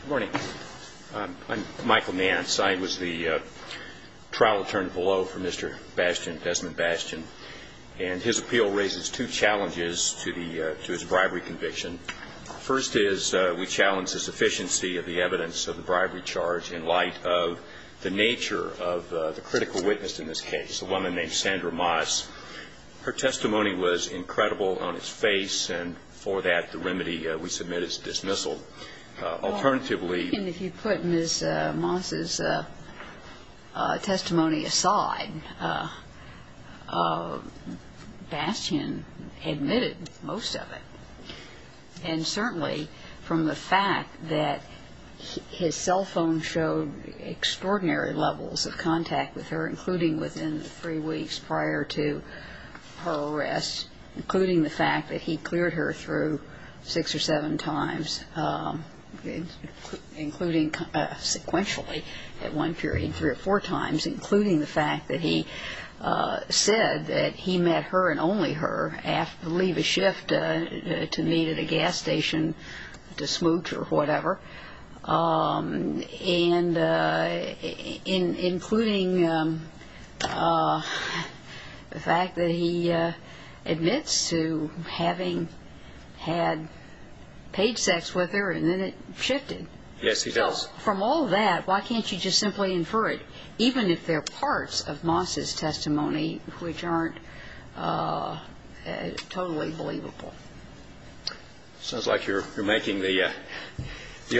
Good morning. I'm Michael Nance. I was the trial attorney below for Mr. Bastian, Desmone Bastian. And his appeal raises two challenges to his bribery conviction. First is we challenge the sufficiency of the evidence of the bribery charge in light of the nature of the critical witness in this case, a woman named Sandra Moss. Her testimony was incredible on its face, and for that the remedy we submit is dismissal. Alternatively... And if you put Ms. Moss' testimony aside, Bastian admitted most of it. And certainly from the fact that his cell phone showed extraordinary levels of contact with her, including within three weeks prior to her arrest, including the fact that he cleared her through six or seven times, including sequentially at one period three or four times, including the fact that he said that he met her and only her after, I believe, a shift to meet at a gas station to smooch or whatever. And including the fact that he admits to having had paid sex with her, and then it shifted. Yes, he does. So from all that, why can't you just simply infer it, even if there are parts of Moss' testimony which aren't totally believable? It sounds like you're making the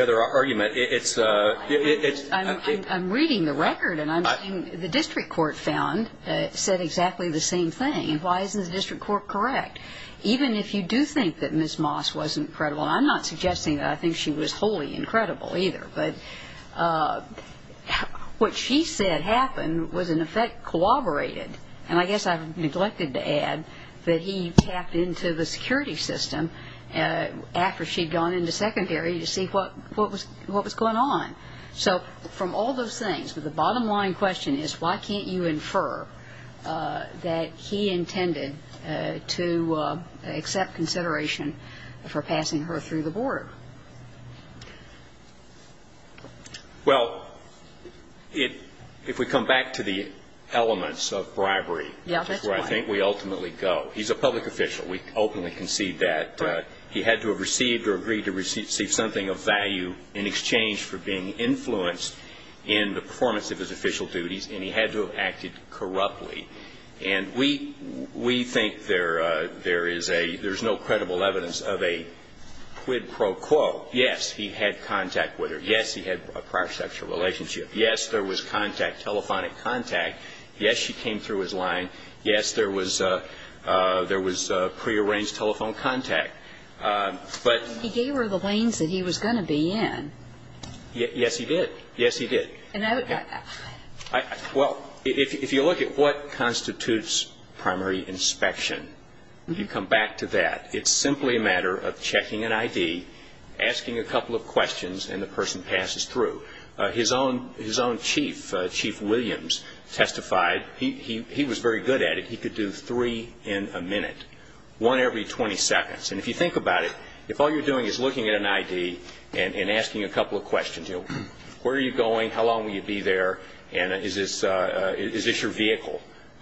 other argument. I'm reading the record, and the district court found it said exactly the same thing. And why isn't the district court correct? Even if you do think that Ms. Moss was incredible, and I'm not suggesting that I think she was wholly incredible either, but what she said happened was, in effect, collaborated. And I guess I've neglected to add that he tapped into the security system after she'd gone into secondary to see what was going on. So from all those things, the bottom line question is, why can't you infer that he intended to accept consideration for passing her through the board? Well, if we come back to the elements of bribery, which is where I think we ultimately go, he's a public official. We openly concede that he had to have received or agreed to receive something of value in exchange for being influenced in the performance of his official duties, and he had to have acted corruptly. And we think there is a – there's no credible evidence of a quid pro quo Yes, he had contact with her. Yes, he had a prior sexual relationship. Yes, there was contact, telephonic contact. Yes, she came through his line. Yes, there was prearranged telephone contact. But he gave her the lanes that he was going to be in. Yes, he did. Yes, he did. Well, if you look at what constitutes primary inspection, you come back to that. It's simply a matter of checking an ID, asking a couple of questions, and the person passes through. His own chief, Chief Williams, testified. He was very good at it. He could do three in a minute, one every 20 seconds. And if you think about it, if all you're doing is looking at an ID and asking a couple of questions, you know, where are you going, how long will you be there, and is this your vehicle,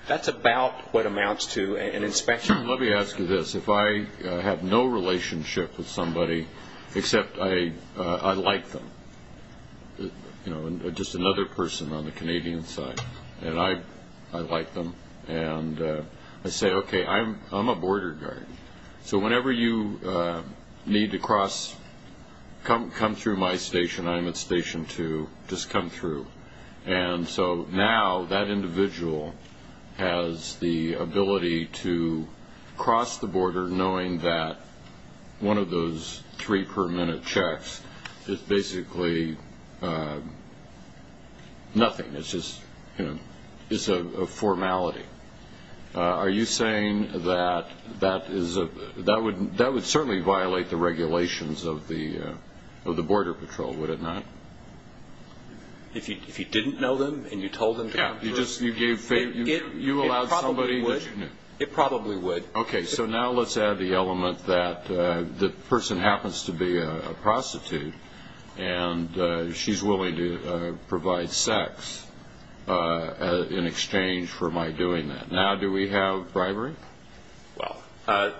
that's about what amounts to an inspection. Let me ask you this. If I have no relationship with somebody, except I like them, you know, just another person on the Canadian side, and I like them, and I say, okay, I'm a border guard. So whenever you need to come through my station, I'm at station two, just come through. And so now that individual has the ability to cross the border knowing that one of those three-per-minute checks is basically nothing. It's just a formality. Are you saying that that would certainly violate the regulations of the Border Patrol, would it not? If you didn't know them and you told them to come through? Yeah. You allowed somebody that you knew. It probably would. Okay. So now let's add the element that the person happens to be a prostitute, and she's willing to provide sex in exchange for my doing that. Now do we have bribery? Well,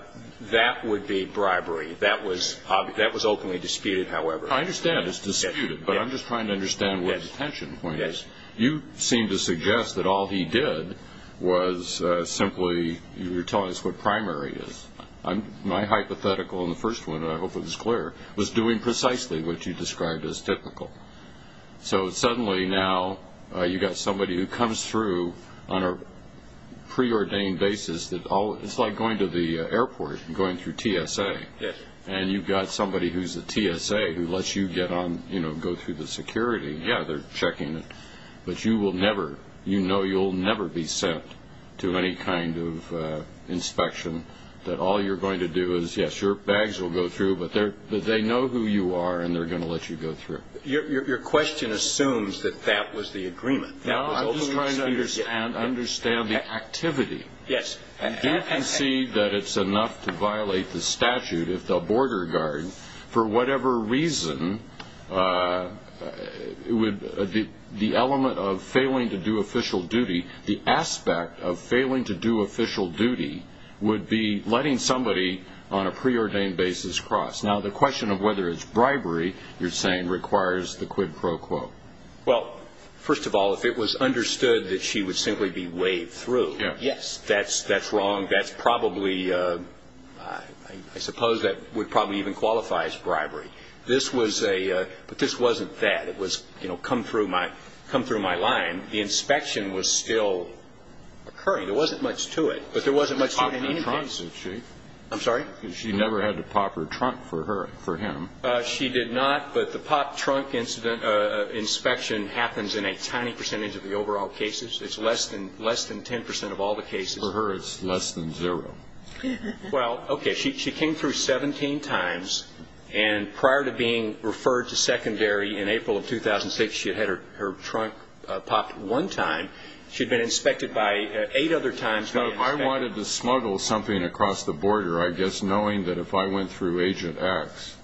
that would be bribery. That was openly disputed, however. I understand it's disputed, but I'm just trying to understand where the tension point is. You seem to suggest that all he did was simply you're telling us what primary is. My hypothetical in the first one, and I hope it was clear, was doing precisely what you described as typical. So suddenly now you've got somebody who comes through on a preordained basis. It's like going to the airport and going through TSA, and you've got somebody who's a TSA who lets you go through the security. Yeah. They're checking it. But you know you'll never be sent to any kind of inspection that all you're going to do is, yes, your bags will go through, but they know who you are and they're going to let you go through. Your question assumes that that was the agreement. No, I'm just trying to understand the activity. Yes. Do you concede that it's enough to violate the statute if the border guard, for whatever reason, the element of failing to do official duty, the aspect of failing to do official duty, would be letting somebody on a preordained basis cross? Now, the question of whether it's bribery, you're saying, requires the quid pro quo. Well, first of all, if it was understood that she would simply be waved through, yes, that's wrong. That's probably, I suppose that would probably even qualify as bribery. But this wasn't that. It was come through my line. The inspection was still occurring. There wasn't much to it, but there wasn't much to it in any case. She popped her trunk, did she? I'm sorry? She never had to pop her trunk for him. She did not, but the popped trunk inspection happens in a tiny percentage of the overall cases. It's less than 10% of all the cases. For her, it's less than zero. Well, okay. She came through 17 times, and prior to being referred to secondary in April of 2006, she had had her trunk popped one time. She'd been inspected by eight other times. Now, if I wanted to smuggle something across the border, I guess knowing that if I went through Agent X,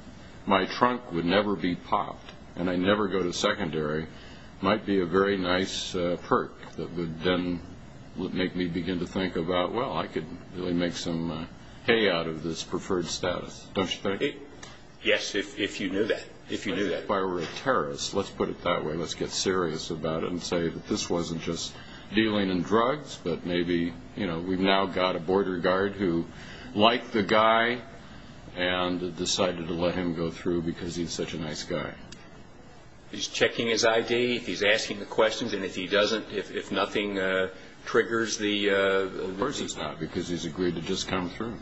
my trunk would never be popped and I'd never go to secondary, might be a very nice perk that would then make me begin to think about, well, I could really make some hay out of this preferred status, don't you think? Yes, if you knew that. If you knew that. If I were a terrorist, let's put it that way. Let's get serious about it and say that this wasn't just dealing in drugs, but maybe we've now got a border guard who liked the guy and decided to let him go through because he's such a nice guy. If he's checking his ID, if he's asking the questions, and if he doesn't, if nothing triggers the ---- Of course it's not, because he's agreed to just come through,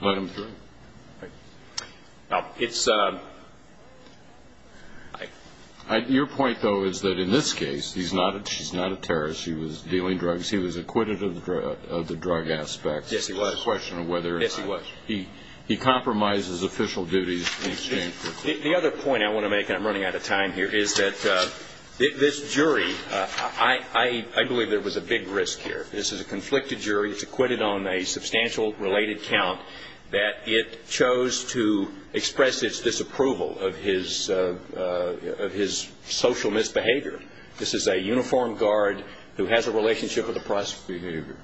let him through. Right. Now, it's a ---- Your point, though, is that in this case, she's not a terrorist. She was dealing drugs. He was acquitted of the drug aspect. Yes, he was. It's a question of whether or not ---- Yes, he was. He compromises official duties in exchange for ---- The other point I want to make, and I'm running out of time here, is that this jury, I believe there was a big risk here. This is a conflicted jury. It's acquitted on a substantial related count that it chose to express its disapproval of his social misbehavior. This is a uniformed guard who has a relationship with the press. Misbehavior.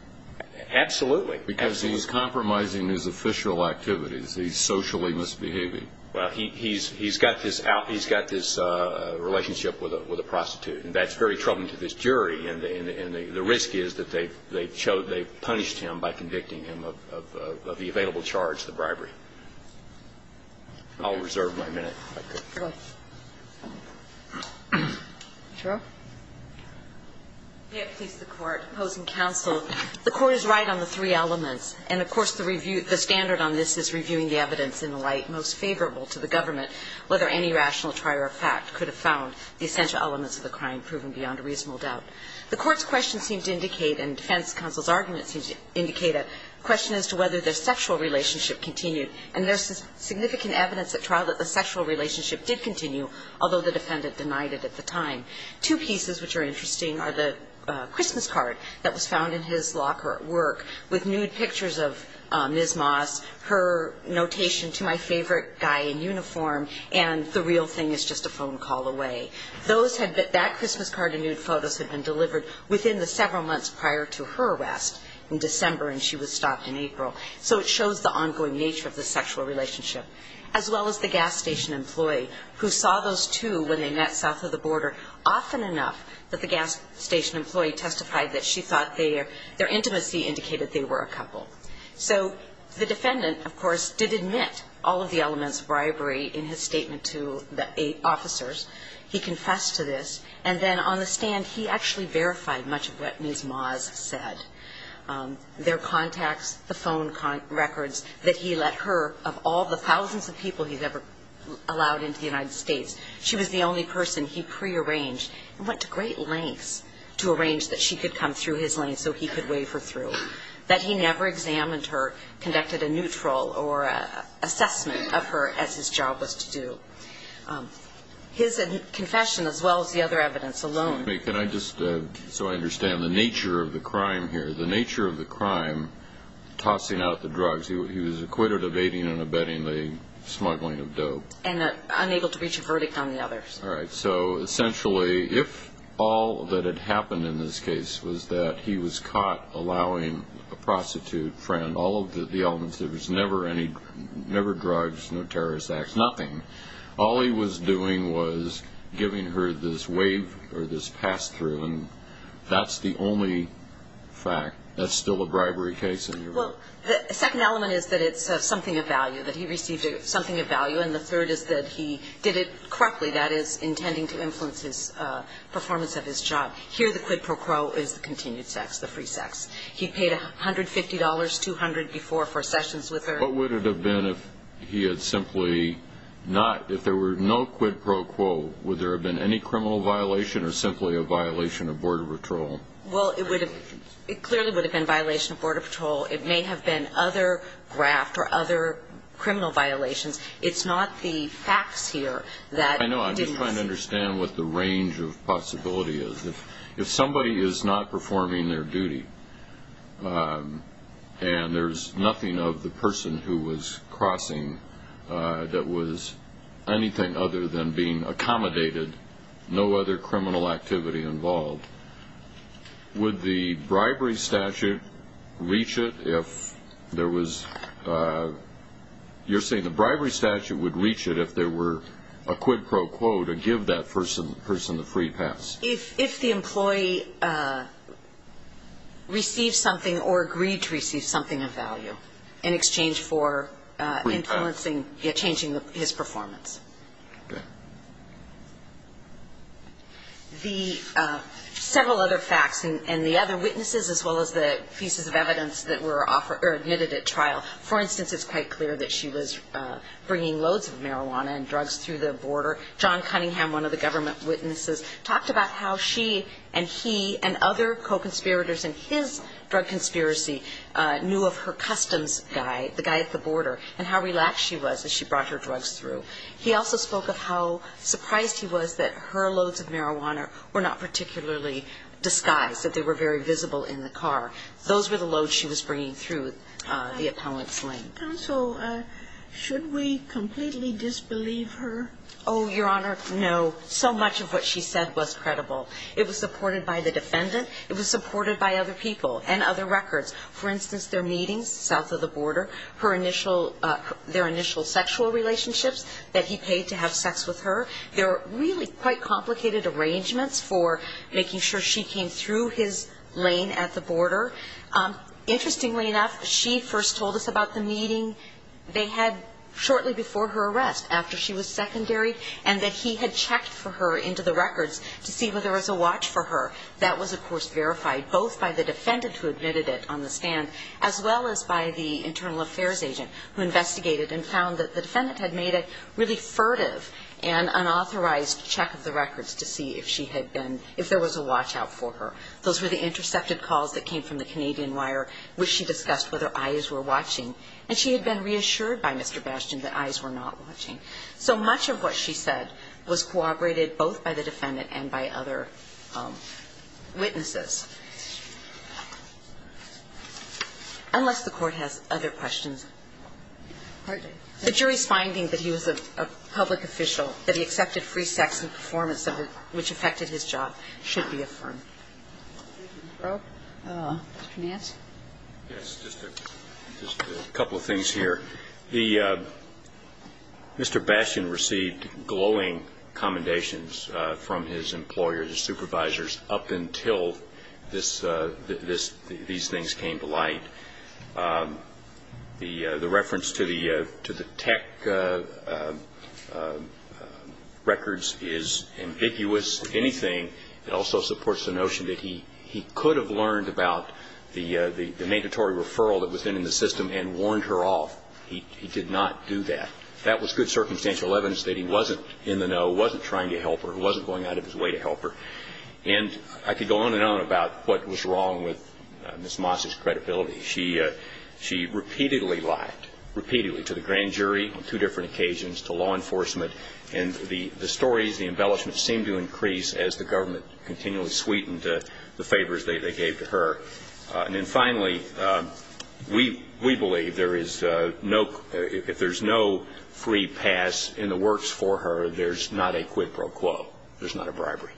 Absolutely. Because he's compromising his official activities. He's socially misbehaving. Well, he's got this out ---- he's got this relationship with a prostitute. And that's very troubling to this jury. And the risk is that they've punished him by convicting him of the available charge, the bribery. I'll reserve my minute. Okay. Sure. May it please the Court. Opposing counsel. The Court is right on the three elements. And, of course, the standard on this is reviewing the evidence in the light most favorable to the government, whether any rational trier of fact could have found the essential elements of the crime proven beyond a reasonable doubt. The Court's question seemed to indicate, and defense counsel's argument seemed to indicate, a question as to whether the sexual relationship continued. And there's significant evidence at trial that the sexual relationship did continue, although the defendant denied it at the time. Two pieces which are interesting are the Christmas card that was found in his locker at work with nude pictures of Ms. Moss, her notation to my favorite guy in uniform, and the real thing is just a phone call away. That Christmas card and nude photos had been delivered within the several months prior to her arrest in December, and she was stopped in April. So it shows the ongoing nature of the sexual relationship. As well as the gas station employee, who saw those two when they met south of the border often enough that the gas station employee testified that she thought their intimacy indicated they were a couple. So the defendant, of course, did admit all of the elements of bribery in his statement to the officers. He confessed to this. And then on the stand, he actually verified much of what Ms. Moss said. Their contacts, the phone records that he let her, of all the thousands of people he's ever allowed into the United States, she was the only person he prearranged and went to great lengths to arrange that she could come through his lane so he could wave her through. That he never examined her, conducted a neutral or assessment of her as his job was to do. His confession, as well as the other evidence alone. Excuse me. Can I just, so I understand the nature of the crime here. The nature of the crime, tossing out the drugs, he was acquitted of aiding and abetting the smuggling of dope. And unable to reach a verdict on the others. All right. So essentially, if all that had happened in this case was that he was caught allowing a prostitute friend all of the elements, there was never any drugs, no terrorist acts, nothing. All he was doing was giving her this wave or this pass through. And that's the only fact. That's still a bribery case. Well, the second element is that it's something of value. That he received something of value. And the third is that he did it correctly. That is, intending to influence his performance of his job. Here the quid pro quo is the continued sex, the free sex. He paid $150, $200 before for sessions with her. What would it have been if he had simply not, if there were no quid pro quo, would there have been any criminal violation or simply a violation of border patrol? Well, it clearly would have been violation of border patrol. It may have been other graft or other criminal violations. It's not the facts here that didn't exist. I know. I'm just trying to understand what the range of possibility is. If somebody is not performing their duty and there's nothing of the person who was crossing that was anything other than being accommodated, no other criminal activity involved, would the bribery statute reach it if there was, you're saying the bribery statute would reach it if there were a quid pro quo to give that person the free pass? If the employee received something or agreed to receive something of value in exchange for influencing, changing his performance. The several other facts and the other witnesses as well as the pieces of evidence that were admitted at trial, for instance, it's quite clear that she was bringing loads of marijuana and drugs through the border. John Cunningham, one of the government witnesses, talked about how she and he and other co-conspirators in his drug conspiracy knew of her customs guy, the guy at the border, and how relaxed she was as she brought her drugs through. He also spoke of how surprised he was that her loads of marijuana were not particularly disguised, that they were very visible in the car. Those were the loads she was bringing through the appellant's lane. Counsel, should we completely disbelieve her? Oh, Your Honor, no. So much of what she said was credible. It was supported by the defendant. It was supported by other people and other records. For instance, their meetings south of the border, her initial – their initial sexual relationships that he paid to have sex with her. There are really quite complicated arrangements for making sure she came through his lane at the border. Interestingly enough, she first told us about the meeting they had shortly before her arrest, after she was secondary, and that he had checked for her into the records to see whether there was a watch for her. That was, of course, verified both by the defendant who admitted it on the stand as well as by the internal affairs agent who investigated and found that the defendant had made a really furtive and unauthorized check of the records to see if she had been – if there was a watch out for her. Those were the intercepted calls that came from the Canadian Wire, which she discussed whether eyes were watching. And she had been reassured by Mr. Bastian that eyes were not watching. So much of what she said was corroborated both by the defendant and by other witnesses. Unless the Court has other questions. Pardon? The jury's finding that he was a public official, that he accepted free sex in performance of a – which affected his job should be affirmed. Mr. Grove? Mr. Nance? Yes. Just a couple of things here. The – Mr. Bastian received glowing commendations from his employers, his supervisors, up until this – these things came to light. The reference to the tech records is ambiguous. If anything, it also supports the notion that he could have learned about the mandatory referral that was in the system and warned her off. He did not do that. That was good circumstantial evidence that he wasn't in the know, wasn't trying to help her, wasn't going out of his way to help her. And I could go on and on about what was wrong with Ms. Moss's credibility. She repeatedly lied, repeatedly, to the grand jury on two different occasions, to law enforcement, and the stories, the embellishments seemed to increase as the government continually sweetened the favors they gave to her. And then finally, we believe there is no – if there's no free pass in the works for her, there's not a quid pro quo. There's not a bribery.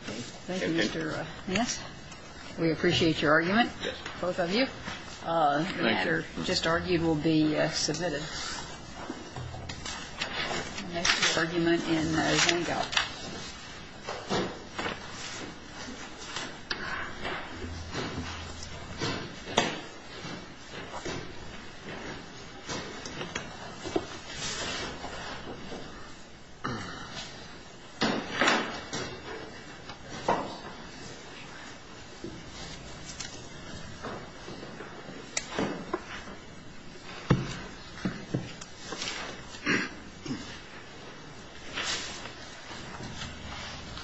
Thank you. Thank you, Mr. Ness. We appreciate your argument. Yes. Both of you. The matter just argued will be submitted. The next argument in Marysanne Gault. Thank you.